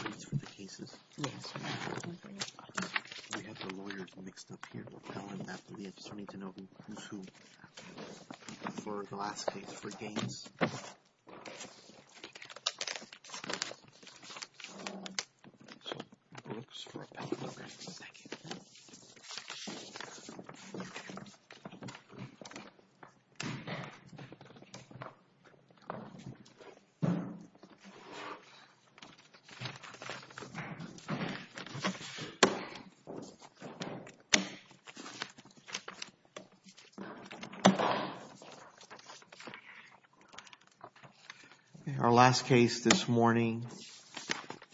I have the lawyers mixed up here. I just need to know who's who for the last case for Gaines. Our last case this morning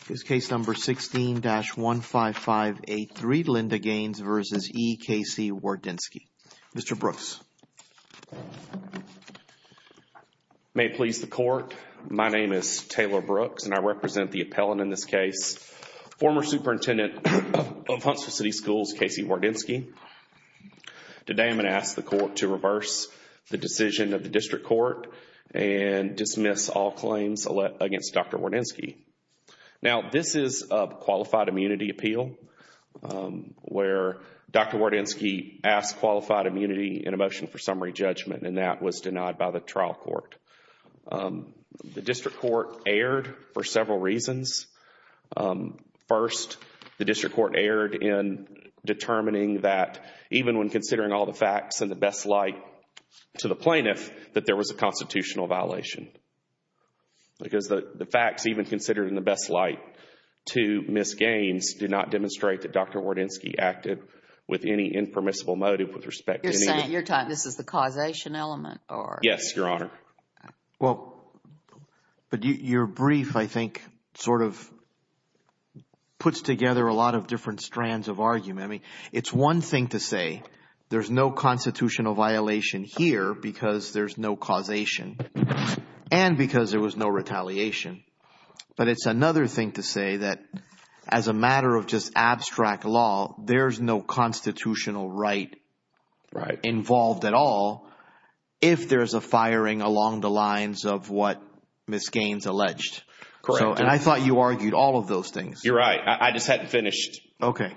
is case number 16-15583, Linda Gaines v. E. Casey Wardynski. Mr. Brooks. May it please the court, my name is Taylor Brooks and I represent the appellant in this case, former superintendent of Huntsville City Schools, Casey Wardynski. Today I'm going to ask the court to reverse the decision of the district court and dismiss all claims against Dr. Wardynski. Now this is a qualified immunity appeal where Dr. Wardynski asked qualified immunity in a motion for summary judgment and that was denied by the trial court. The district court erred for several reasons. First, the district court erred in determining that even when considering all the facts in the best light to the plaintiff that there was a constitutional violation. Because the facts even considered in the best light to Ms. Gaines did not demonstrate that Dr. Wardynski acted with any impermissible motive with respect to any— You're saying this is the causation element or— Yes, Your Honor. Well, but your brief I think sort of puts together a lot of different strands of argument. I mean it's one thing to say there's no constitutional violation here because there's no causation and because there was no retaliation. But it's another thing to say that as a matter of just abstract law, there's no constitutional right involved at all if there's a firing along the lines of what Ms. Gaines alleged. Correct. And I thought you argued all of those things. You're right. I just hadn't finished. Okay.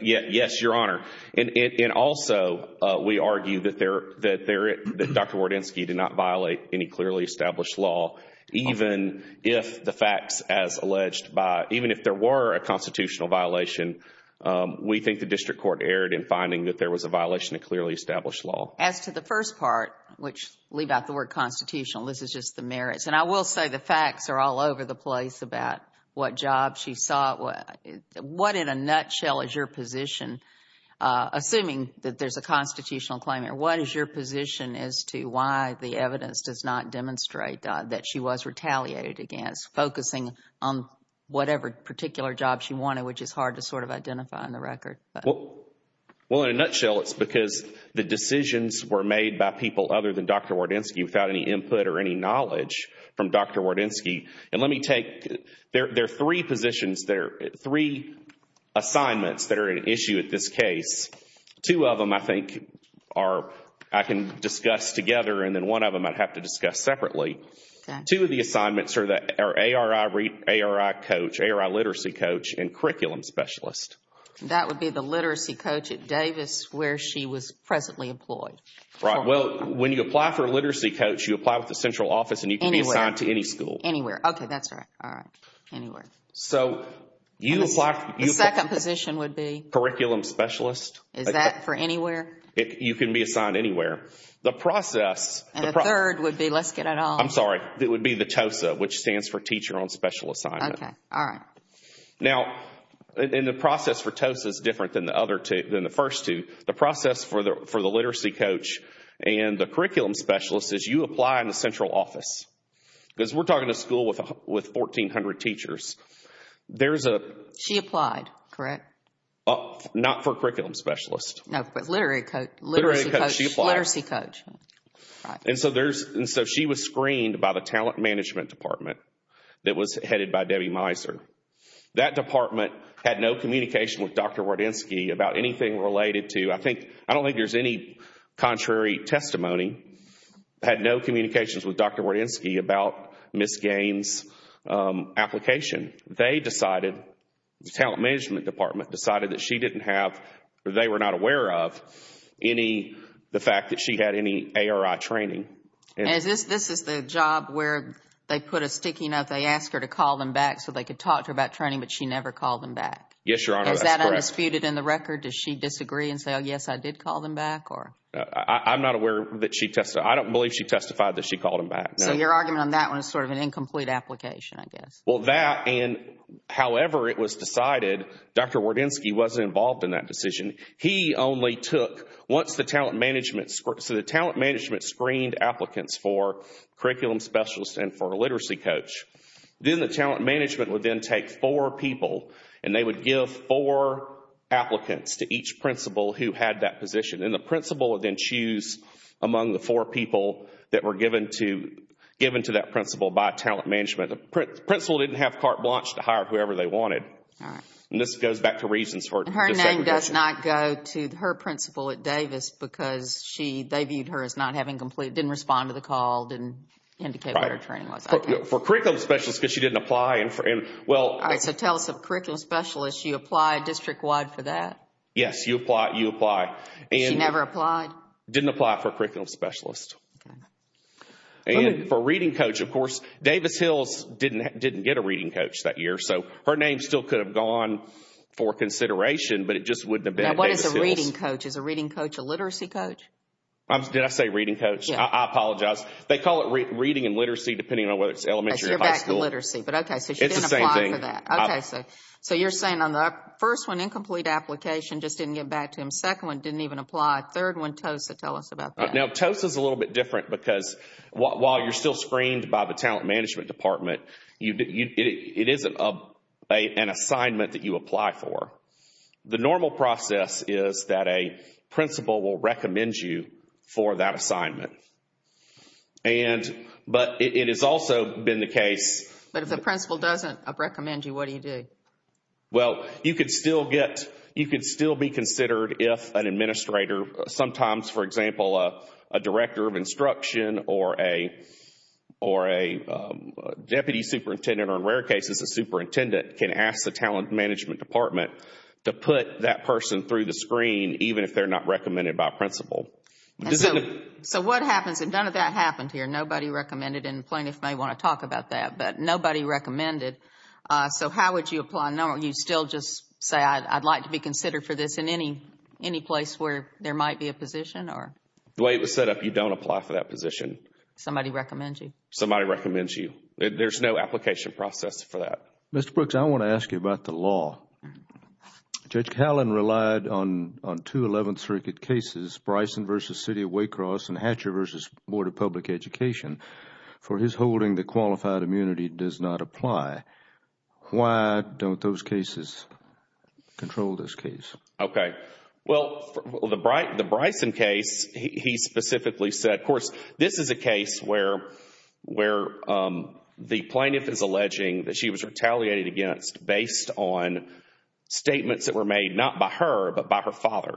Yes, Your Honor. And also we argue that Dr. Wardynski did not violate any clearly established law even if the facts as alleged by—even if there were a constitutional violation, we think the district court erred in finding that there was a violation of clearly established law. Well, as to the first part, which leave out the word constitutional, this is just the merits. And I will say the facts are all over the place about what job she sought. What in a nutshell is your position? Assuming that there's a constitutional claim here, what is your position as to why the evidence does not demonstrate that she was retaliated against, focusing on whatever particular job she wanted, which is hard to sort of identify on the record? Well, in a nutshell, it's because the decisions were made by people other than Dr. Wardynski without any input or any knowledge from Dr. Wardynski. And let me take—there are three positions, three assignments that are at issue at this case. Two of them I think are—I can discuss together and then one of them I'd have to discuss separately. Okay. Two of the assignments are that—are ARI coach, ARI literacy coach and curriculum specialist. That would be the literacy coach at Davis where she was presently employed. Right. Well, when you apply for a literacy coach, you apply with the central office and you can be assigned to any school. Anywhere. Anywhere. Okay. That's right. All right. Anywhere. So, you apply— The second position would be? Curriculum specialist. Is that for anywhere? You can be assigned anywhere. The process— And the third would be—let's get it on. I'm sorry. It would be the TOSA, which stands for teacher on special assignment. Okay. All right. Now, in the process for TOSA is different than the other two—than the first two. The process for the literacy coach and the curriculum specialist is you apply in the central office. Because we're talking a school with 1,400 teachers. There's a— She applied, correct? Not for curriculum specialist. No, but literacy coach. Literacy coach. She applied. Literacy coach. Right. And so there's—and so she was screened by the talent management department that was headed by Debbie Meiser. That department had no communication with Dr. Wardynski about anything related to— I think—I don't think there's any contrary testimony. Had no communications with Dr. Wardynski about Ms. Gaines' application. They decided—the talent management department decided that she didn't have— This is the job where they put a sticky note. They asked her to call them back so they could talk to her about training, but she never called them back. Yes, Your Honor, that's correct. Is that undisputed in the record? Does she disagree and say, oh, yes, I did call them back? I'm not aware that she—I don't believe she testified that she called them back. So your argument on that one is sort of an incomplete application, I guess. Well, that and however it was decided, Dr. Wardynski wasn't involved in that decision. He only took—once the talent management—so the talent management screened applicants for curriculum specialist and for literacy coach. Then the talent management would then take four people and they would give four applicants to each principal who had that position. And the principal would then choose among the four people that were given to that principal by talent management. The principal didn't have carte blanche to hire whoever they wanted. All right. And this goes back to reasons for— And her name does not go to her principal at Davis because she—they viewed her as not having complete—didn't respond to the call, didn't indicate what her training was. For curriculum specialist because she didn't apply. All right. So tell us, curriculum specialist, you applied district-wide for that? Yes, you apply. She never applied? Didn't apply for curriculum specialist. And for reading coach, of course, Davis Hills didn't get a reading coach that year. So her name still could have gone for consideration, but it just wouldn't have been Davis Hills. Now, what is a reading coach? Is a reading coach a literacy coach? Did I say reading coach? Yes. I apologize. They call it reading and literacy depending on whether it's elementary or high school. So you're back to literacy. But okay, so she didn't apply for that. It's the same thing. Okay. So you're saying on the first one, incomplete application, just didn't get back to him. Second one, didn't even apply. Third one, TOSA. Tell us about that. Now, TOSA is a little bit different because while you're still screened by the Talent Management Department, it isn't an assignment that you apply for. The normal process is that a principal will recommend you for that assignment. But it has also been the case. But if the principal doesn't recommend you, what do you do? Well, you could still be considered if an administrator, sometimes, for example, a director of instruction or a deputy superintendent, or in rare cases, a superintendent, can ask the Talent Management Department to put that person through the screen even if they're not recommended by a principal. So what happens? And none of that happened here. Nobody recommended. And plaintiffs may want to talk about that. But nobody recommended. So how would you apply? Don't you still just say, I'd like to be considered for this in any place where there might be a position? The way it was set up, you don't apply for that position. Somebody recommends you. Somebody recommends you. There's no application process for that. Mr. Brooks, I want to ask you about the law. Judge Callen relied on two Eleventh Circuit cases, Bryson v. City of Waycross and Hatcher v. Board of Public Education. For his holding, the qualified immunity does not apply. Why don't those cases control this case? Okay. Well, the Bryson case, he specifically said, of course, this is a case where the plaintiff is alleging that she was retaliated against based on statements that were made not by her but by her father.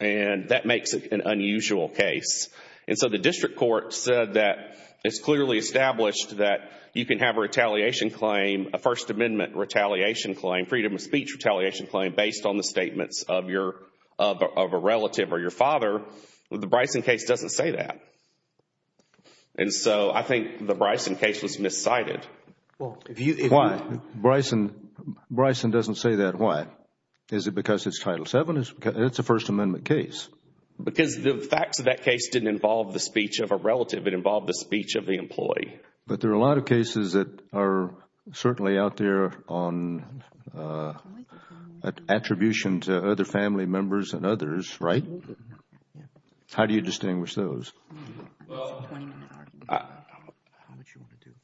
And that makes it an unusual case. And so the district court said that it's clearly established that you can have a retaliation claim, a First Amendment retaliation claim, freedom of speech retaliation claim, based on the statements of a relative or your father. The Bryson case doesn't say that. And so I think the Bryson case was miscited. Why? Bryson doesn't say that. Why? Is it because it's Title VII? It's a First Amendment case. Because the facts of that case didn't involve the speech of a relative. It involved the speech of the employee. But there are a lot of cases that are certainly out there on attribution to other family members and others, right? How do you distinguish those?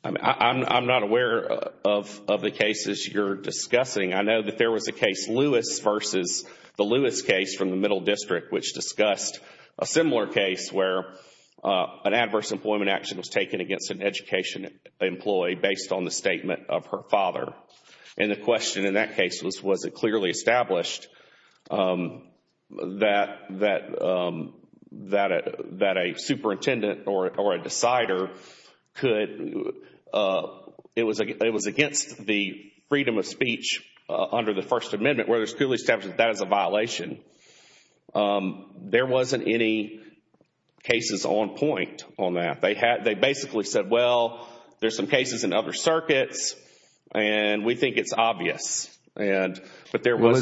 I'm not aware of the cases you're discussing. I know that there was a case, Lewis versus the Lewis case from the Middle District, which discussed a similar case where an adverse employment action was taken against an education employee based on the statement of her father. And the question in that case was, was it clearly established that a superintendent or a decider could, it was against the freedom of speech under the First Amendment, whether it's clearly established that that is a violation. There wasn't any cases on point on that. They basically said, well, there's some cases in other circuits, and we think it's obvious. Is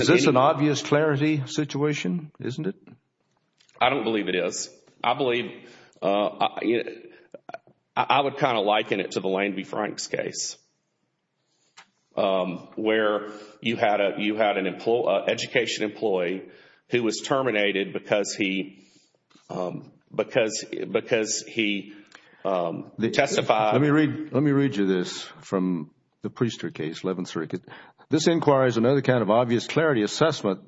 this an obvious clarity situation, isn't it? I don't believe it is. I believe, I would kind of liken it to the Lane v. Franks case where you had an education employee who was terminated because he testified. Let me read you this from the Priester case, 11th Circuit. This inquiry is another kind of obvious clarity assessment,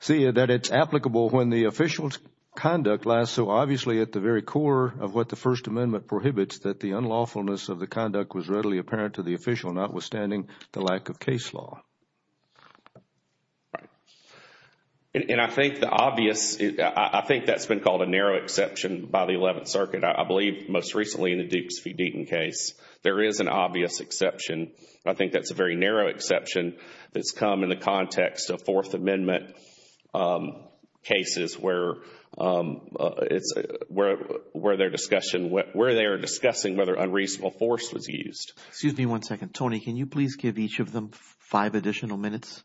see that it's applicable when the official's conduct lies so obviously at the very core of what the First Amendment prohibits, that the unlawfulness of the conduct was readily apparent to the official, notwithstanding the lack of case law. And I think the obvious, I think that's been called a narrow exception by the 11th Circuit. I believe most recently in the Dukes v. Deaton case, there is an obvious exception. I think that's a very narrow exception that's come in the context of Fourth Amendment cases where they're discussing whether unreasonable force was used. Excuse me one second. Tony, can you please give each of them five additional minutes?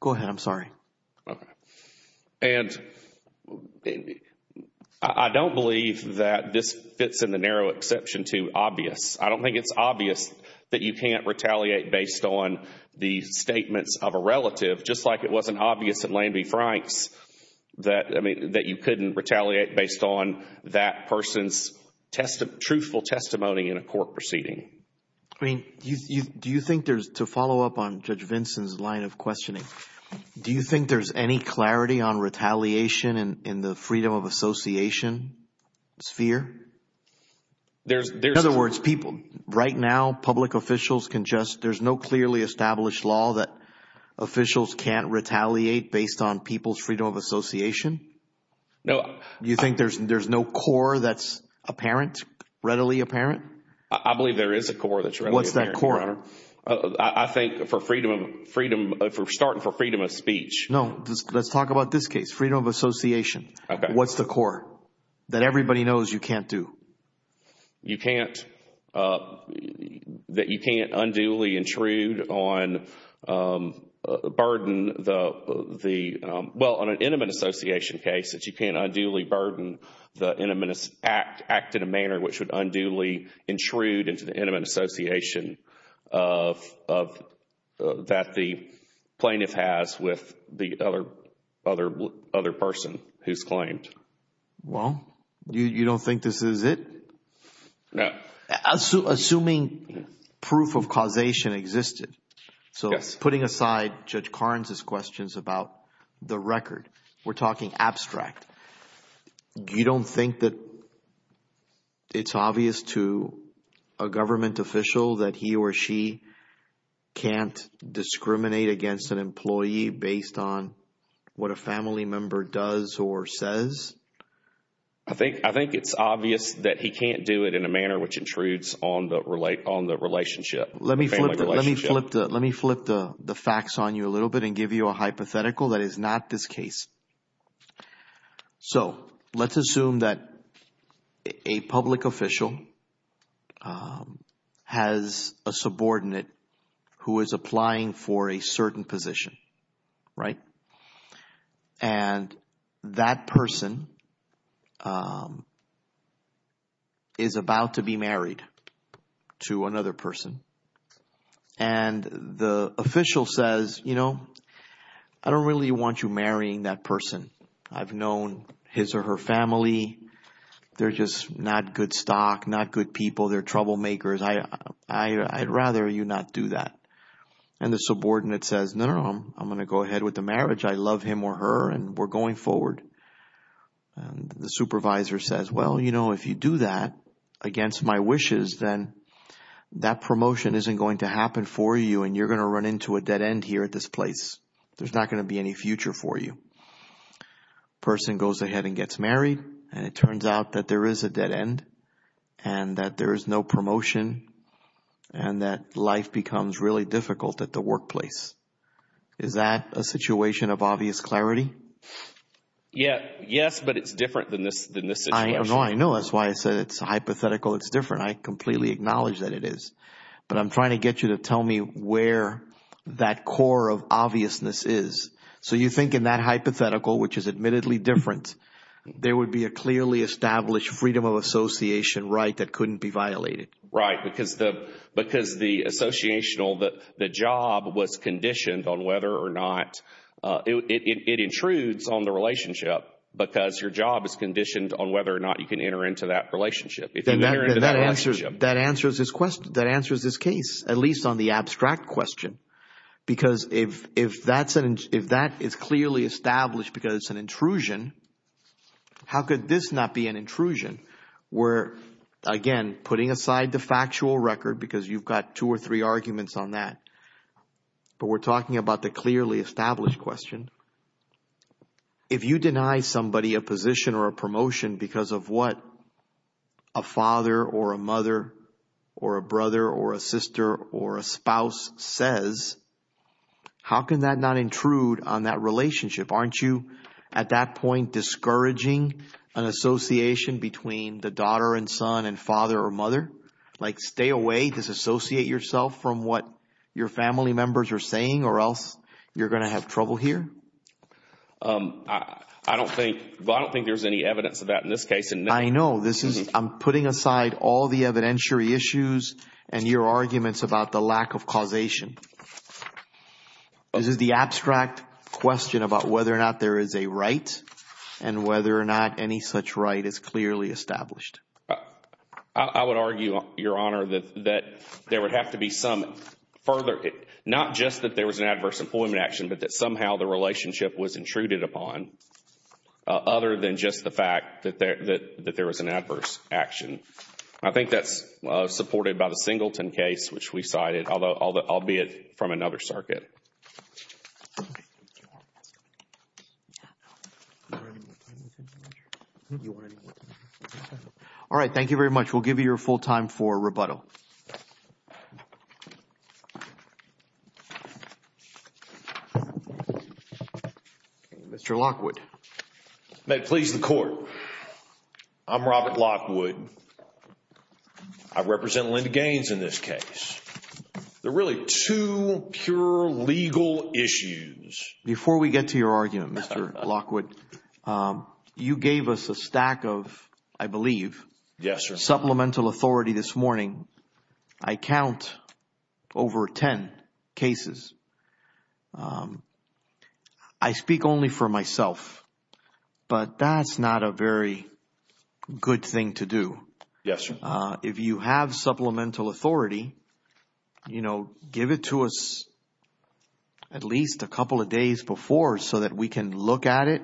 Go ahead, I'm sorry. And I don't believe that this fits in the narrow exception to obvious. I don't think it's obvious that you can't retaliate based on the statements of a relative, just like it wasn't obvious in Lane v. Franks that, I mean, that you couldn't retaliate based on that person's truthful testimony in a court proceeding. I mean, do you think there's, to follow up on Judge Vinson's line of questioning, do you think there's any clarity on retaliation in the freedom of association sphere? In other words, people, right now, public officials can just, there's no clearly established law that officials can't retaliate based on people's freedom of association? No. Do you think there's no core that's apparent, readily apparent? I believe there is a core that's readily apparent, Your Honor. What's that core? I think for freedom of, starting for freedom of speech. No, let's talk about this case, freedom of association. Okay. What's the core that everybody knows you can't do? You can't, that you can't unduly intrude on, burden the, well, on an intimate association case, that you can't unduly burden the intimate, act in a manner which would unduly intrude into the intimate association of, that the plaintiff has with the other person who's claimed. Well, you don't think this is it? No. Assuming proof of causation existed, so putting aside Judge Carnes' questions about the record, we're talking abstract, you don't think that it's obvious to a government official that he or she can't discriminate against an employee based on what a family member does or says? I think it's obvious that he can't do it in a manner which intrudes on the relationship, family relationship. Let me flip the facts on you a little bit and give you a hypothetical that is not this case. So let's assume that a public official has a subordinate who is applying for a certain position, right? And that person is about to be married to another person. And the official says, you know, I don't really want you marrying that person. I've known his or her family. They're just not good stock, not good people. They're troublemakers. I'd rather you not do that. And the subordinate says, no, no, I'm going to go ahead with the marriage. I love him or her, and we're going forward. And the supervisor says, well, you know, if you do that against my wishes, then that promotion isn't going to happen for you, and you're going to run into a dead end here at this place. There's not going to be any future for you. The person goes ahead and gets married, and it turns out that there is a dead end and that there is no promotion and that life becomes really difficult at the workplace. Is that a situation of obvious clarity? Yes, but it's different than this situation. I know. That's why I said it's hypothetical. It's different. I completely acknowledge that it is. But I'm trying to get you to tell me where that core of obviousness is. So you think in that hypothetical, which is admittedly different, there would be a clearly established freedom of association right that couldn't be violated? Right, because the job was conditioned on whether or not – it intrudes on the relationship because your job is conditioned on whether or not you can enter into that relationship. That answers this case, at least on the abstract question, because if that is clearly established because it's an intrusion, how could this not be an intrusion? We're, again, putting aside the factual record because you've got two or three arguments on that, but we're talking about the clearly established question. If you deny somebody a position or a promotion because of what a father or a mother or a brother or a sister or a spouse says, how can that not intrude on that relationship? Aren't you at that point discouraging an association between the daughter and son and father or mother? Like stay away, disassociate yourself from what your family members are saying or else you're going to have trouble here? I don't think there's any evidence of that in this case. I know. I'm putting aside all the evidentiary issues and your arguments about the lack of causation. This is the abstract question about whether or not there is a right and whether or not any such right is clearly established. I would argue, Your Honor, that there would have to be some further, not just that there was an adverse employment action, but that somehow the relationship was intruded upon other than just the fact that there was an adverse action. I think that's supported by the Singleton case, which we cited, albeit from another circuit. All right. Thank you very much. We'll give you your full time for rebuttal. Mr. Lockwood. May it please the Court. I'm Robert Lockwood. I represent Linda Gaines in this case. There are really two pure legal issues. Before we get to your argument, Mr. Lockwood, you gave us a stack of, I believe, supplemental authority this morning. I count over ten cases. I speak only for myself, but that's not a very good thing to do. Yes, Your Honor. If you have supplemental authority, you know, give it to us at least a couple of days before so that we can look at it,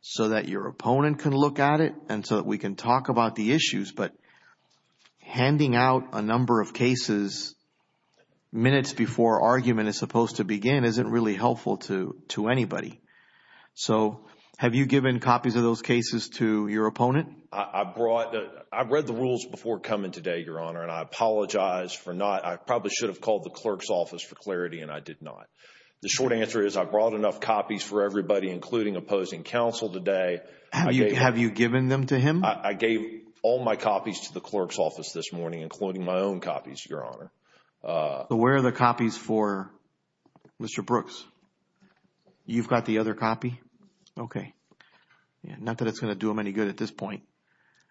so that your opponent can look at it, and so that we can talk about the issues. But handing out a number of cases minutes before argument is supposed to begin isn't really helpful to anybody. So have you given copies of those cases to your opponent? I've read the rules before coming today, Your Honor, and I apologize for not. I probably should have called the clerk's office for clarity, and I did not. The short answer is I brought enough copies for everybody, including opposing counsel today. Have you given them to him? I gave all my copies to the clerk's office this morning, including my own copies, Your Honor. Where are the copies for Mr. Brooks? You've got the other copy? Okay. Not that it's going to do him any good at this point.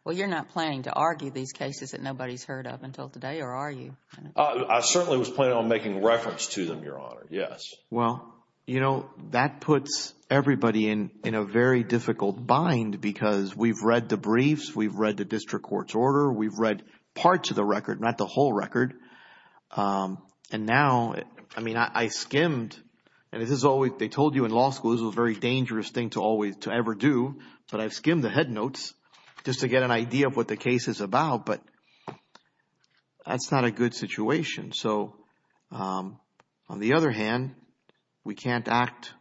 Well, you're not planning to argue these cases that nobody's heard of until today, or are you? I certainly was planning on making reference to them, Your Honor, yes. Well, you know, that puts everybody in a very difficult bind because we've read the briefs. We've read the district court's order. We've read parts of the record, not the whole record. And now, I mean, I skimmed, and they told you in law school this was a very dangerous thing to ever do, but I've skimmed the head notes just to get an idea of what the case is about, but that's not a good situation. So, on the other hand, we can't act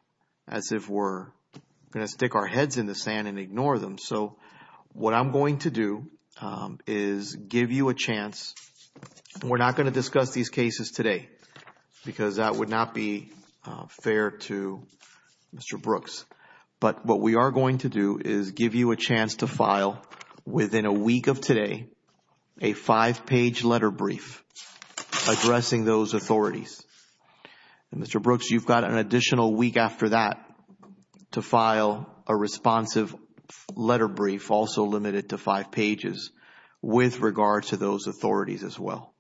as if we're going to stick our heads in the sand and ignore them. So, what I'm going to do is give you a chance, and we're not going to discuss these cases today because that would not be fair to Mr. Brooks, but what we are going to do is give you a chance to file within a week of today a five-page letter brief. Addressing those authorities. And, Mr. Brooks, you've got an additional week after that to file a responsive letter brief, also limited to five pages, with regard to those authorities as well.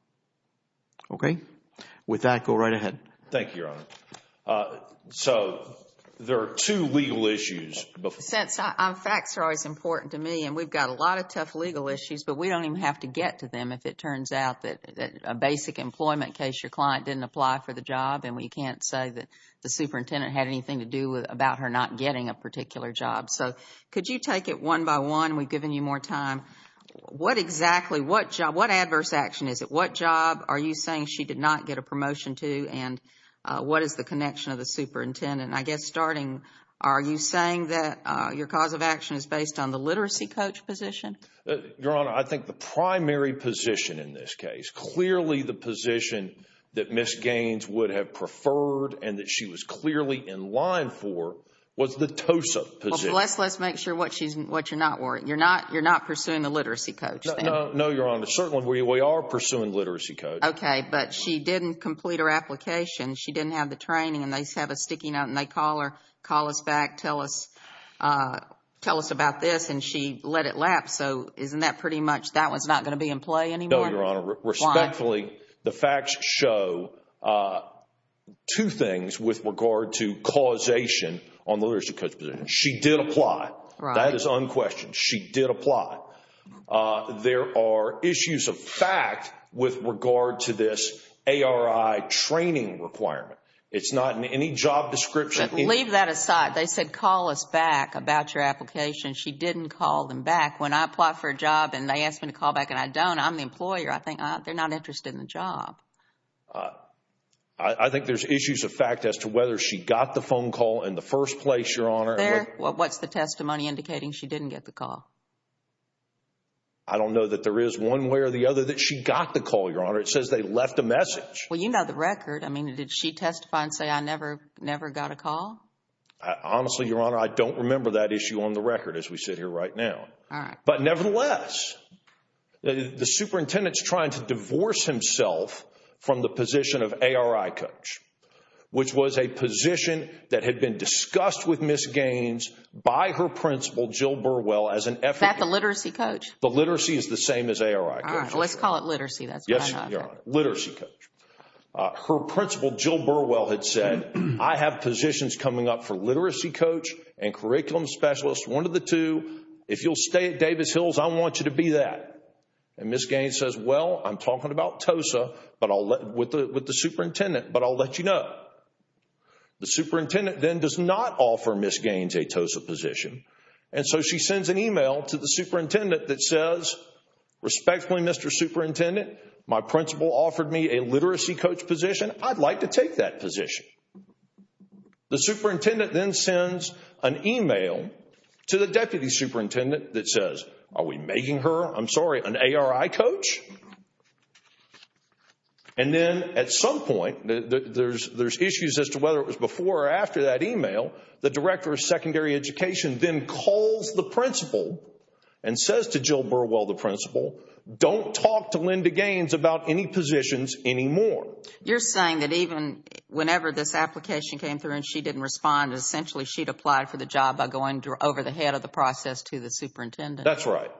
Okay? With that, go right ahead. Thank you, Your Honor. So, there are two legal issues. Since facts are always important to me, and we've got a lot of tough legal issues, but we don't even have to get to them if it turns out that a basic employment case, your client didn't apply for the job, and we can't say that the superintendent had anything to do about her not getting a particular job. So, could you take it one by one? We've given you more time. What exactly, what adverse action is it? What job are you saying she did not get a promotion to, and what is the connection of the superintendent? I guess starting, are you saying that your cause of action is based on the literacy coach position? Your Honor, I think the primary position in this case, clearly the position that Ms. Gaines would have preferred and that she was clearly in line for, was the TOSA position. Well, let's make sure what you're not worried. You're not pursuing the literacy coach then? No, Your Honor. Certainly, we are pursuing literacy coach. Okay, but she didn't complete her application. She didn't have the training, and they have us sticking out, and they call us back, tell us about this, and she let it lapse. So, isn't that pretty much, that one's not going to be in play anymore? No, Your Honor. Respectfully, the facts show two things with regard to causation on the literacy coach position. She did apply. That is unquestioned. She did apply. There are issues of fact with regard to this ARI training requirement. It's not in any job description. Leave that aside. They said call us back about your application. She didn't call them back. When I apply for a job and they ask me to call back and I don't, I'm the employer. I think they're not interested in the job. I think there's issues of fact as to whether she got the phone call in the first place, Your Honor. What's the testimony indicating? She didn't get the call. I don't know that there is one way or the other that she got the call, Your Honor. It says they left a message. Well, you know the record. I mean, did she testify and say, I never got a call? Honestly, Your Honor, I don't remember that issue on the record as we sit here right now. All right. But nevertheless, the superintendent's trying to divorce himself from the position of ARI coach, which was a position that had been discussed with Ms. Gaines by her principal, Jill Burwell, as an effort. Is that the literacy coach? The literacy is the same as ARI coach. All right. Let's call it literacy. Yes, Your Honor. Literacy coach. Her principal, Jill Burwell, had said, I have positions coming up for literacy coach and curriculum specialist, one of the two. If you'll stay at Davis Hills, I want you to be that. And Ms. Gaines says, Well, I'm talking about TOSA with the superintendent, but I'll let you know. The superintendent then does not offer Ms. Gaines a TOSA position, and so she sends an email to the superintendent that says, Respectfully, Mr. Superintendent, my principal offered me a literacy coach position. I'd like to take that position. The superintendent then sends an email to the deputy superintendent that says, Are we making her, I'm sorry, an ARI coach? And then at some point, there's issues as to whether it was before or after that email, the director of secondary education then calls the principal and says to Jill Burwell, the principal, Don't talk to Linda Gaines about any positions anymore. You're saying that even whenever this application came through and she didn't respond, essentially she'd applied for the job by going over the head of the process to the superintendent? That's right.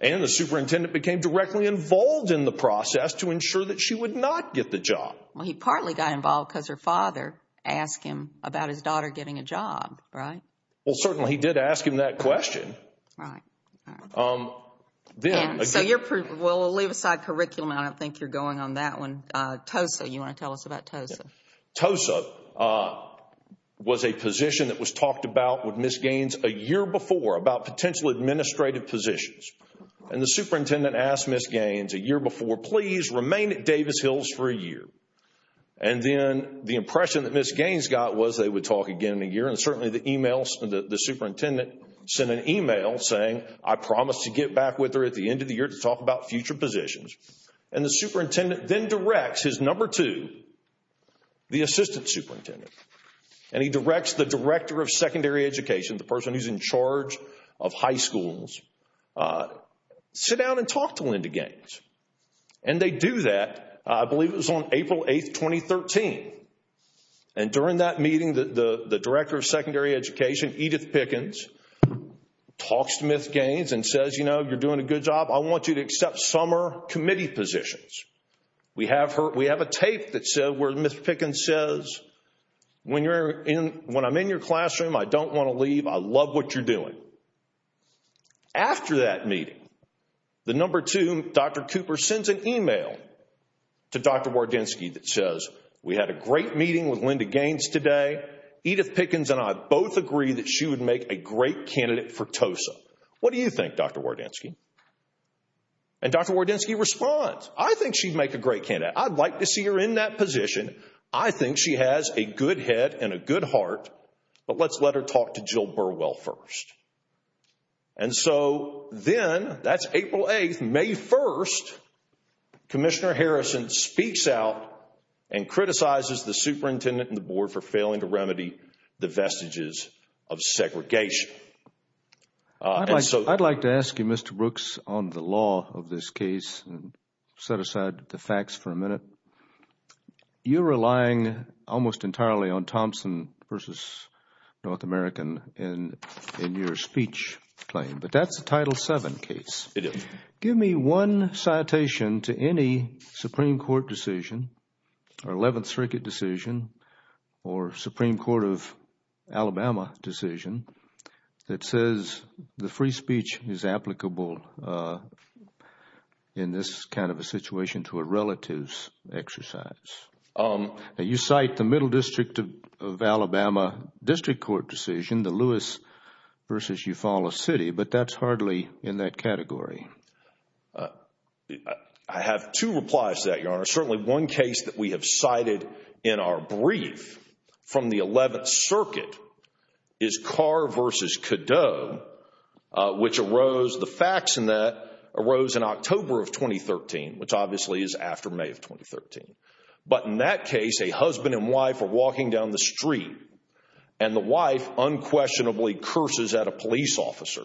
And the superintendent became directly involved in the process to ensure that she would not get the job. Well, he partly got involved because her father asked him about his daughter getting a job, right? Well, certainly he did ask him that question. Right. So we'll leave aside curriculum. I don't think you're going on that one. TOSA, you want to tell us about TOSA? TOSA was a position that was talked about with Ms. Gaines a year before about potential administrative positions. And the superintendent asked Ms. Gaines a year before, Please remain at Davis Hills for a year. And then the impression that Ms. Gaines got was they would talk again in a year. And certainly the email, the superintendent sent an email saying, I promise to get back with her at the end of the year to talk about future positions. And the superintendent then directs his number two, the assistant superintendent, and he directs the director of secondary education, the person who's in charge of high schools, sit down and talk to Linda Gaines. And they do that, I believe it was on April 8, 2013. And during that meeting, the director of secondary education, Edith Pickens, talks to Ms. Gaines and says, You know, you're doing a good job. I want you to accept summer committee positions. We have a tape that says where Ms. Pickens says, When I'm in your classroom, I don't want to leave. I love what you're doing. After that meeting, the number two, Dr. Cooper sends an email to Dr. Wardynski that says, We had a great meeting with Linda Gaines today. Edith Pickens and I both agree that she would make a great candidate for TOSA. What do you think, Dr. Wardynski? And Dr. Wardynski responds, I think she'd make a great candidate. I'd like to see her in that position. I think she has a good head and a good heart. But let's let her talk to Jill Burwell first. And so then, that's April 8, May 1, Commissioner Harrison speaks out and criticizes the superintendent and the board for failing to remedy the vestiges of segregation. I'd like to ask you, Mr. Brooks, on the law of this case. Set aside the facts for a minute. You're relying almost entirely on Thompson v. North American in your speech claim. But that's a Title VII case. Give me one citation to any Supreme Court decision or Eleventh Circuit decision or Supreme Court of Alabama decision that says the free speech is applicable in this kind of a situation to a relative's exercise. You cite the Middle District of Alabama District Court decision, the Lewis v. Eufaula City, but that's hardly in that category. I have two replies to that, Your Honor. Certainly one case that we have cited in our brief from the Eleventh Circuit is Carr v. Cadot, which arose, the facts in that, arose in October of 2013, which obviously is after May of 2013. But in that case, a husband and wife are walking down the street, and the wife unquestionably curses at a police officer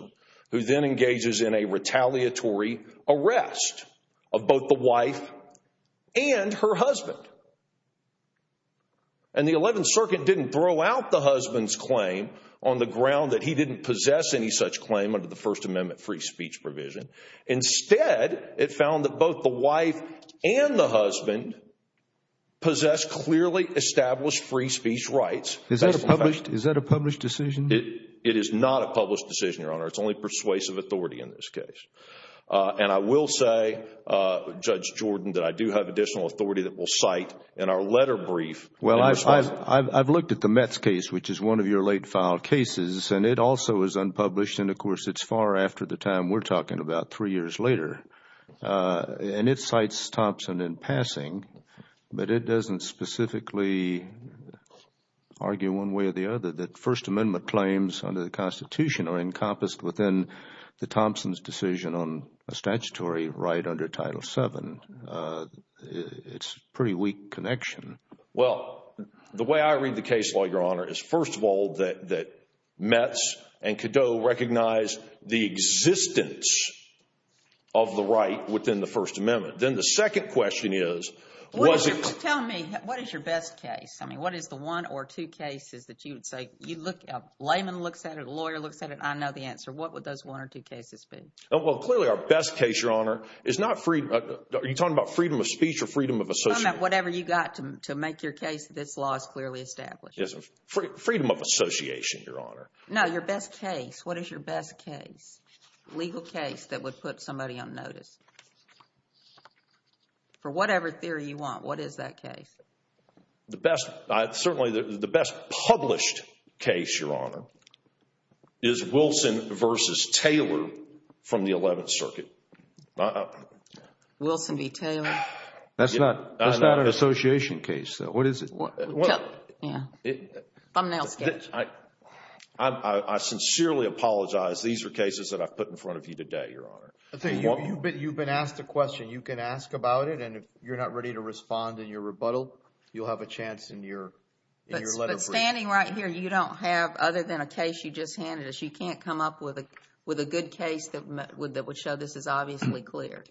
who then engages in a retaliatory arrest of both the wife and her husband. And the Eleventh Circuit didn't throw out the husband's claim on the ground that he didn't possess any such claim under the First Amendment free speech provision. Instead, it found that both the wife and the husband possessed clearly established free speech rights. Is that a published decision? It is not a published decision, Your Honor. It's only persuasive authority in this case. And I will say, Judge Jordan, that I do have additional authority that we'll cite in our letter brief. Well, I've looked at the Metz case, which is one of your late filed cases, and it also is unpublished, and of course, it's far after the time we're talking about, three years later. And it cites Thompson in passing, but it doesn't specifically argue one way or the other that First Amendment claims under the Constitution are encompassed within the Thompson's decision on a statutory right under Title VII. It's a pretty weak connection. Well, the way I read the case, Lloyd, Your Honor, is, first of all, that Metz and Cadeau recognize the existence of the right within the First Amendment. Then the second question is, was it— Tell me, what is your best case? I mean, what is the one or two cases that you would say, you look— a layman looks at it, a lawyer looks at it, I know the answer. What would those one or two cases be? Well, clearly, our best case, Your Honor, is not freedom— are you talking about freedom of speech or freedom of association? I'm talking about whatever you've got to make your case that this law is clearly established. Freedom of association, Your Honor. No, your best case. What is your best case, legal case, that would put somebody on notice? For whatever theory you want, what is that case? The best—certainly, the best published case, Your Honor, is Wilson v. Taylor from the Eleventh Circuit. Wilson v. Taylor? That's not an association case, though. What is it? Thumbnail sketch. I sincerely apologize. These are cases that I've put in front of you today, Your Honor. You've been asked a question. You can ask about it, and if you're not ready to respond in your rebuttal, you'll have a chance in your letter brief. But standing right here, you don't have, other than a case you just handed us, you can't come up with a good case that would show this is obviously clear.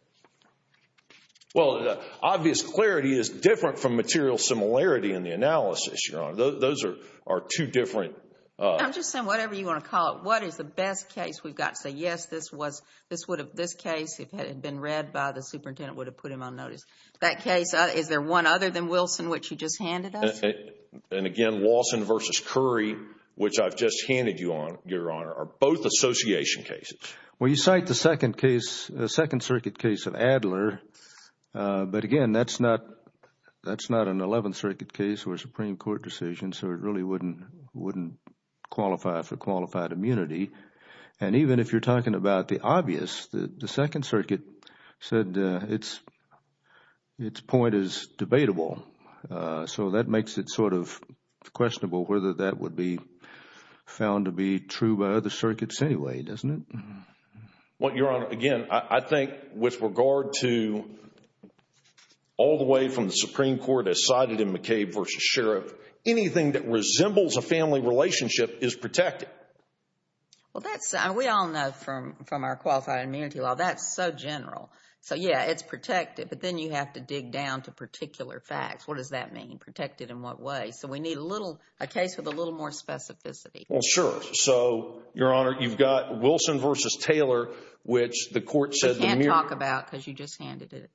Well, obvious clarity is different from material similarity in the analysis, Your Honor. Those are two different— I'm just saying whatever you want to call it. What is the best case we've got to say, yes, this case, if it had been read by the superintendent, would have put him on notice? That case, is there one other than Wilson, which you just handed us? And, again, Wilson v. Curry, which I've just handed you, Your Honor, are both association cases. Well, you cite the Second Circuit case of Adler, but, again, that's not an Eleventh Circuit case or a Supreme Court decision, so it really wouldn't qualify for qualified immunity. And even if you're talking about the obvious, the Second Circuit said its point is debatable. So that makes it sort of questionable whether that would be found to be true by other circuits anyway, doesn't it? Well, Your Honor, again, I think with regard to all the way from the Supreme Court as cited in McCabe v. Sheriff, anything that resembles a family relationship is protected. Well, that's—we all know from our qualified immunity law, that's so general. So, yeah, it's protected, but then you have to dig down to particular facts. What does that mean, protected in what way? So we need a little—a case with a little more specificity. Well, sure. So, Your Honor, you've got Wilson v. Taylor, which the court said— You can't talk about because you just handed it.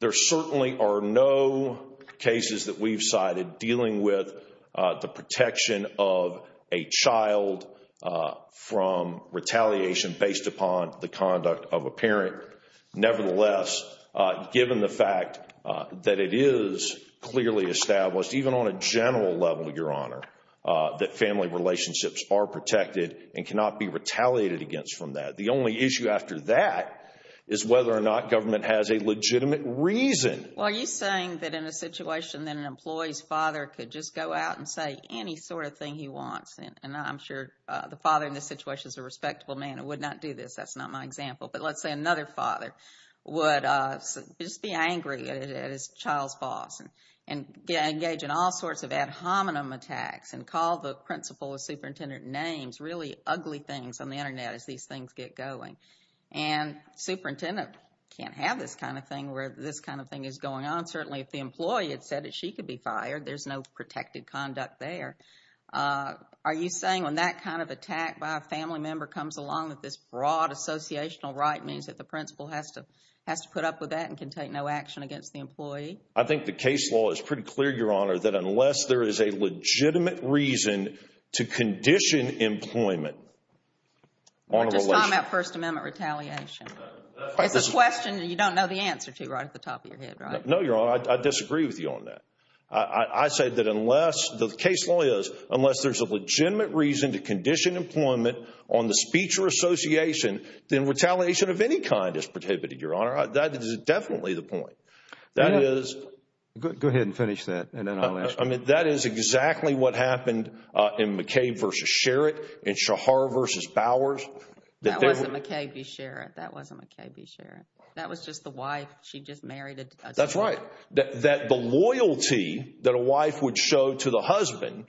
There certainly are no cases that we've cited dealing with the protection of a child from retaliation based upon the conduct of a parent. Nevertheless, given the fact that it is clearly established, even on a general level, Your Honor, that family relationships are protected and cannot be retaliated against from that. The only issue after that is whether or not government has a legitimate reason. Well, are you saying that in a situation that an employee's father could just go out and say any sort of thing he wants? And I'm sure the father in this situation is a respectable man and would not do this. That's not my example, but let's say another father would just be angry at his child's boss and engage in all sorts of ad hominem attacks and call the principal or superintendent names, really ugly things on the Internet as these things get going. And superintendent can't have this kind of thing where this kind of thing is going on. Certainly, if the employee had said that she could be fired, there's no protected conduct there. Are you saying when that kind of attack by a family member comes along, that this broad associational right means that the principal has to put up with that and can take no action against the employee? I think the case law is pretty clear, Your Honor, that unless there is a legitimate reason to condition employment. Or just comment on First Amendment retaliation. It's a question you don't know the answer to right at the top of your head, right? No, Your Honor, I disagree with you on that. I say that unless, the case law is, unless there's a legitimate reason to condition employment on the speech or association, then retaliation of any kind is prohibited, Your Honor. That is definitely the point. Go ahead and finish that, and then I'll ask you. I mean, that is exactly what happened in McCabe v. Sherratt, in Shahar v. Bowers. That wasn't McCabe v. Sherratt. That wasn't McCabe v. Sherratt. That was just the wife. She just married a judge. That's right. That the loyalty that a wife would show to the husband.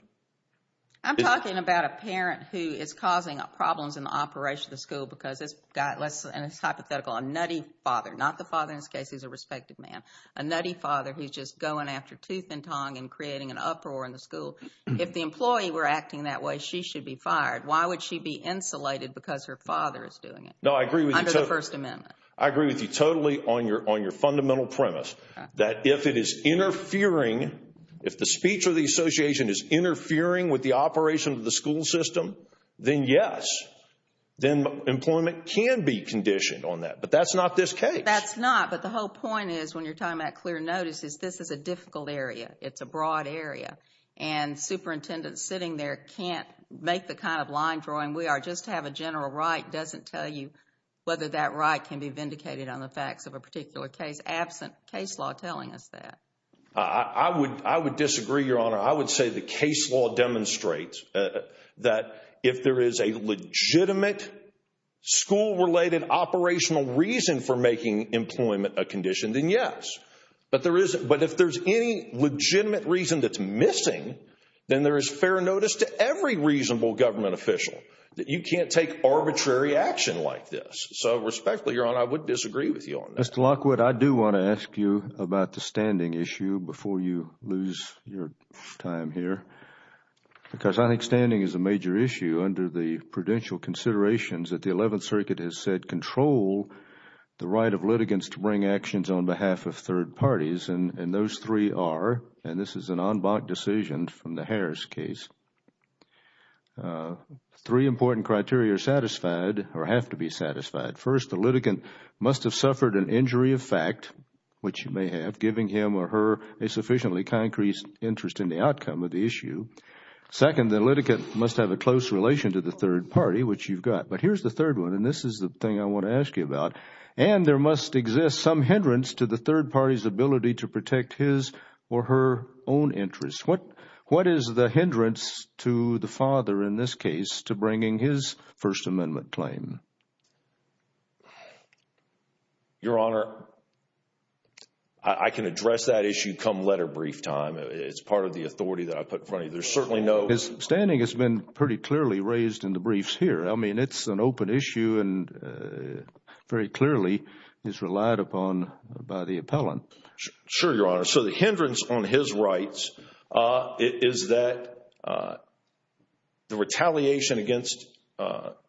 I'm talking about a parent who is causing problems in the operation of the school because this guy, and it's hypothetical, a nutty father. Not the father in this case. He's a respected man. A nutty father who's just going after tooth and tongue and creating an uproar in the school. If the employee were acting that way, she should be fired. Why would she be insulated because her father is doing it? No, I agree with you totally. Under the First Amendment. I agree with you totally on your fundamental premise. That if it is interfering, if the speech or the association is interfering with the operation of the school system, then yes. Then employment can be conditioned on that. But that's not this case. That's not. But the whole point is, when you're talking about clear notice, is this is a difficult area. It's a broad area. And superintendents sitting there can't make the kind of line drawing we are. Just to have a general right doesn't tell you whether that right can be vindicated on the facts of a particular case. Absent case law telling us that. I would disagree, Your Honor. I would say the case law demonstrates that if there is a legitimate school-related operational reason for making employment a condition, then yes. But if there is any legitimate reason that's missing, then there is fair notice to every reasonable government official that you can't take arbitrary action like this. So respectfully, Your Honor, I would disagree with you on that. Mr. Lockwood, I do want to ask you about the standing issue before you lose your time here. Because I think standing is a major issue under the prudential considerations that the Eleventh Circuit has said control the right of litigants to bring actions on behalf of third parties. And those three are, and this is an en banc decision from the Harris case, three important criteria satisfied or have to be satisfied. First, the litigant must have suffered an injury of fact, which you may have, giving him or her a sufficiently concrete interest in the outcome of the issue. Second, the litigant must have a close relation to the third party, which you've got. But here's the third one, and this is the thing I want to ask you about. And there must exist some hindrance to the third party's ability to protect his or her own interests. What is the hindrance to the father in this case to bringing his First Amendment claim? Your Honor, I can address that issue come letter brief time. It's part of the authority that I put in front of you. There's certainly no— His standing has been pretty clearly raised in the briefs here. I mean, it's an open issue and very clearly is relied upon by the appellant. Sure, Your Honor. So the hindrance on his rights is that the retaliation against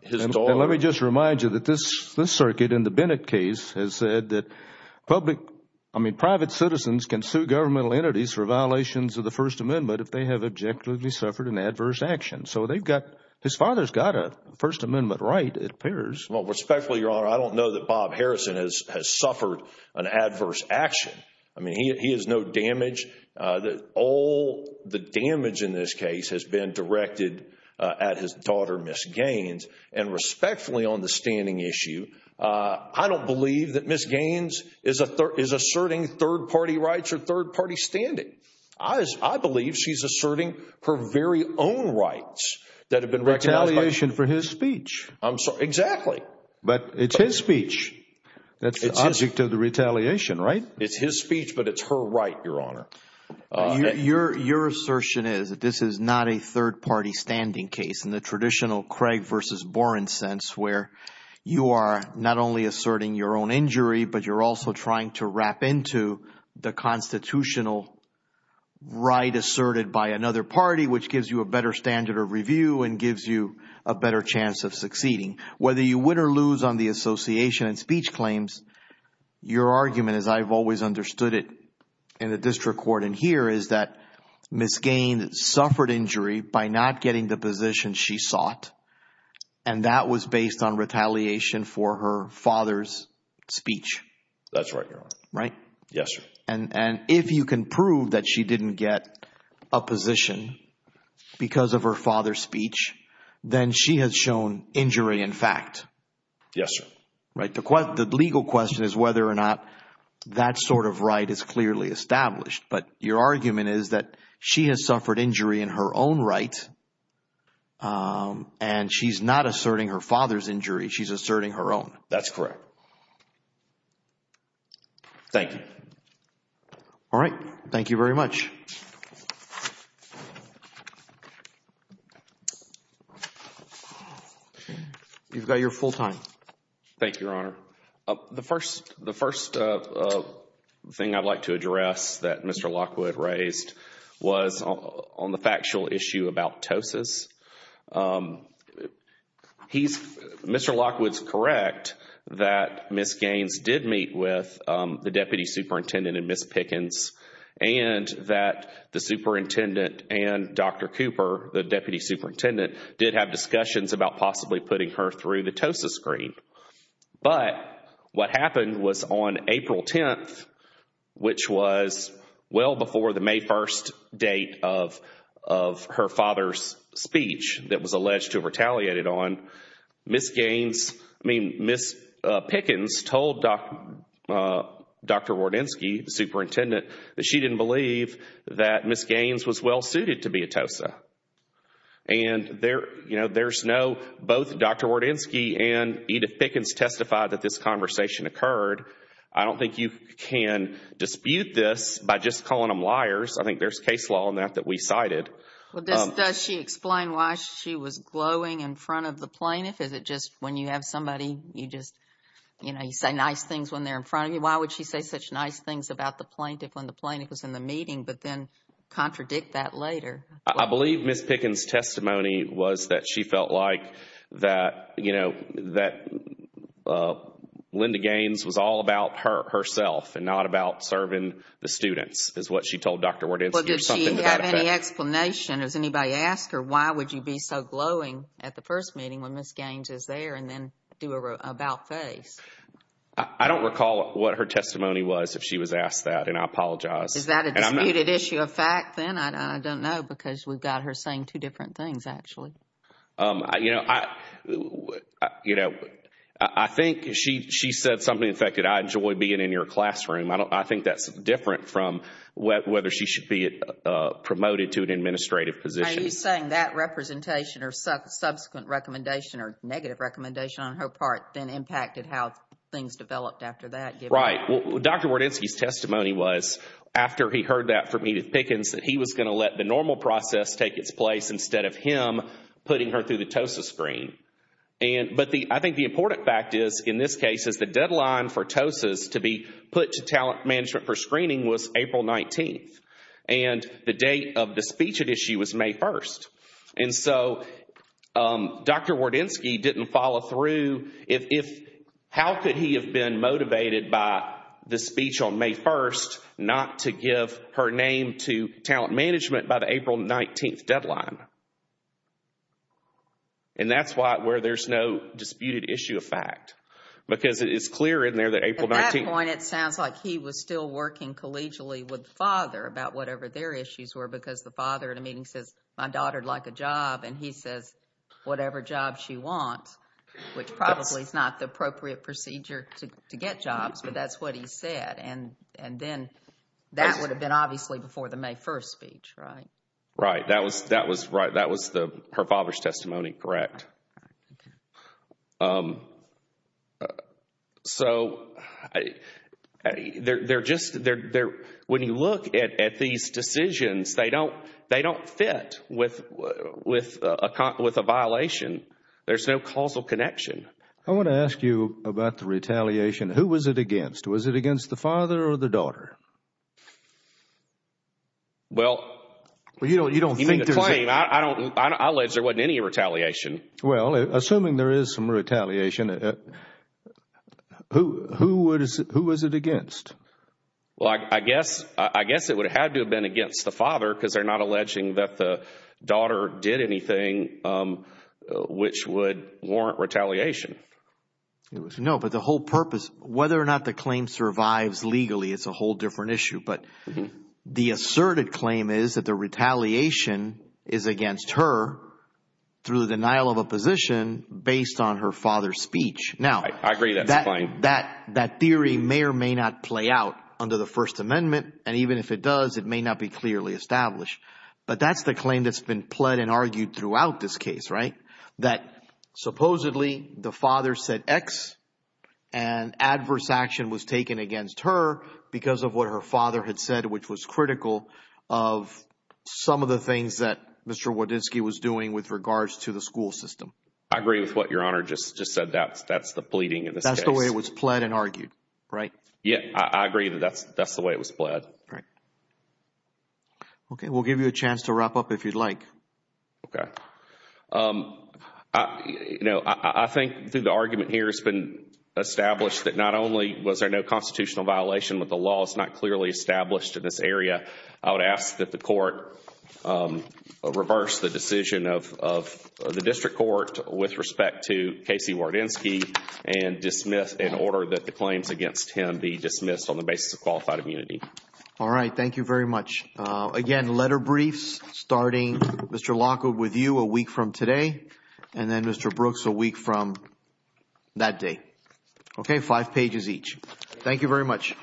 his daughter— And let me just remind you that this circuit in the Bennett case has said that public—I mean, private citizens can sue governmental entities for violations of the First Amendment if they have objectively suffered an adverse action. So they've got—his father's got a First Amendment right, it appears. Well, respectfully, Your Honor, I don't know that Bob Harrison has suffered an adverse action. I mean, he has no damage. All the damage in this case has been directed at his daughter, Ms. Gaines. And respectfully, on the standing issue, I don't believe that Ms. Gaines is asserting third party rights or third party standing. I believe she's asserting her very own rights that have been recognized by— Retaliation for his speech. Exactly. But it's his speech. That's the object of the retaliation, right? It's his speech, but it's her right, Your Honor. Your assertion is that this is not a third party standing case in the traditional Craig versus Boren sense where you are not only asserting your own injury, but you're also trying to wrap into the constitutional right asserted by another party, which gives you a better standard of review and gives you a better chance of succeeding. Whether you win or lose on the association and speech claims, your argument, as I've always understood it in the district court and here, is that Ms. Gaines suffered injury by not getting the position she sought, and that was based on retaliation for her father's speech. That's right, Your Honor. Right? Yes, sir. And if you can prove that she didn't get a position because of her father's speech, then she has shown injury in fact. Yes, sir. Right? The legal question is whether or not that sort of right is clearly established, but your argument is that she has suffered injury in her own right, and she's not asserting her father's injury. She's asserting her own. That's correct. Thank you. All right. Thank you very much. You've got your full time. Thank you, Your Honor. The first thing I'd like to address that Mr. Lockwood raised was on the factual issue about Tosis. Mr. Lockwood's correct that Ms. Gaines did meet with the deputy superintendent and Ms. Pickens, and that the superintendent and Dr. Cooper, the deputy superintendent, did have discussions about possibly putting her through the Tosis screen. But what happened was on April 10th, which was well before the May 1st date of her father's speech that was alleged to have retaliated on, Ms. Pickens told Dr. Wardinsky, the superintendent, that she didn't believe that Ms. Gaines was well-suited to be a Tosa. And there's no, both Dr. Wardinsky and Edith Pickens testified that this conversation occurred. I don't think you can dispute this by just calling them liars. I think there's case law on that that we cited. Does she explain why she was glowing in front of the plaintiff? Is it just when you have somebody, you just, you know, you say nice things when they're in front of you? Why would she say such nice things about the plaintiff when the plaintiff was in the meeting, but then contradict that later? I believe Ms. Pickens' testimony was that she felt like that, you know, that Linda Gaines was all about herself and not about serving the students is what she told Dr. Wardinsky. Well, did she have any explanation? Has anybody asked her why would you be so glowing at the first meeting when Ms. Gaines is there and then do an about-face? I don't recall what her testimony was if she was asked that, and I apologize. Is that a disputed issue of fact then? I don't know because we've got her saying two different things, actually. You know, I think she said something, in fact, that I enjoy being in your classroom. I think that's different from whether she should be promoted to an administrative position. Are you saying that representation or subsequent recommendation or negative recommendation on her part then impacted how things developed after that? Right. Dr. Wardinsky's testimony was, after he heard that from Edith Pickens, that he was going to let the normal process take its place instead of him putting her through the TOSA screen. But I think the important fact is, in this case, is the deadline for TOSAs to be put to Talent Management for Screening was April 19th, and the date of the speech at issue was May 1st. And so Dr. Wardinsky didn't follow through. How could he have been motivated by the speech on May 1st not to give her name to Talent Management by the April 19th deadline? And that's where there's no disputed issue of fact, because it is clear in there that April 19th— And he says, whatever job she wants, which probably is not the appropriate procedure to get jobs, but that's what he said. And then that would have been obviously before the May 1st speech, right? Right. That was her father's testimony, correct. All right. Okay. So they're just—when you look at these decisions, they don't fit with a violation. There's no causal connection. I want to ask you about the retaliation. Who was it against? Was it against the father or the daughter? Well— You don't think there's a— I don't—I allege there wasn't any retaliation. Well, assuming there is some retaliation, who was it against? Well, I guess it would have had to have been against the father because they're not alleging that the daughter did anything which would warrant retaliation. No, but the whole purpose—whether or not the claim survives legally, it's a whole different issue. But the asserted claim is that the retaliation is against her through the denial of a position based on her father's speech. Now— I agree that's a claim. That theory may or may not play out under the First Amendment, and even if it does, it may not be clearly established. But that's the claim that's been pled and argued throughout this case, right? That supposedly the father said X, and adverse action was taken against her because of what her father had said, which was critical of some of the things that Mr. Wodinski was doing with regards to the school system. I agree with what Your Honor just said. That's the pleading in this case. That's the way it was pled and argued, right? Yeah, I agree that that's the way it was pled. Right. Okay, we'll give you a chance to wrap up if you'd like. Okay. I think through the argument here, it's been established that not only was there no constitutional violation, but the law is not clearly established in this area. I would ask that the court reverse the decision of the district court with respect to Casey Wodinski and dismiss in order that the claims against him be dismissed on the basis of qualified immunity. All right, thank you very much. Again, letter briefs starting Mr. Lockwood with you a week from today, and then Mr. Brooks a week from that day. Okay, five pages each. Thank you very much. Thank you.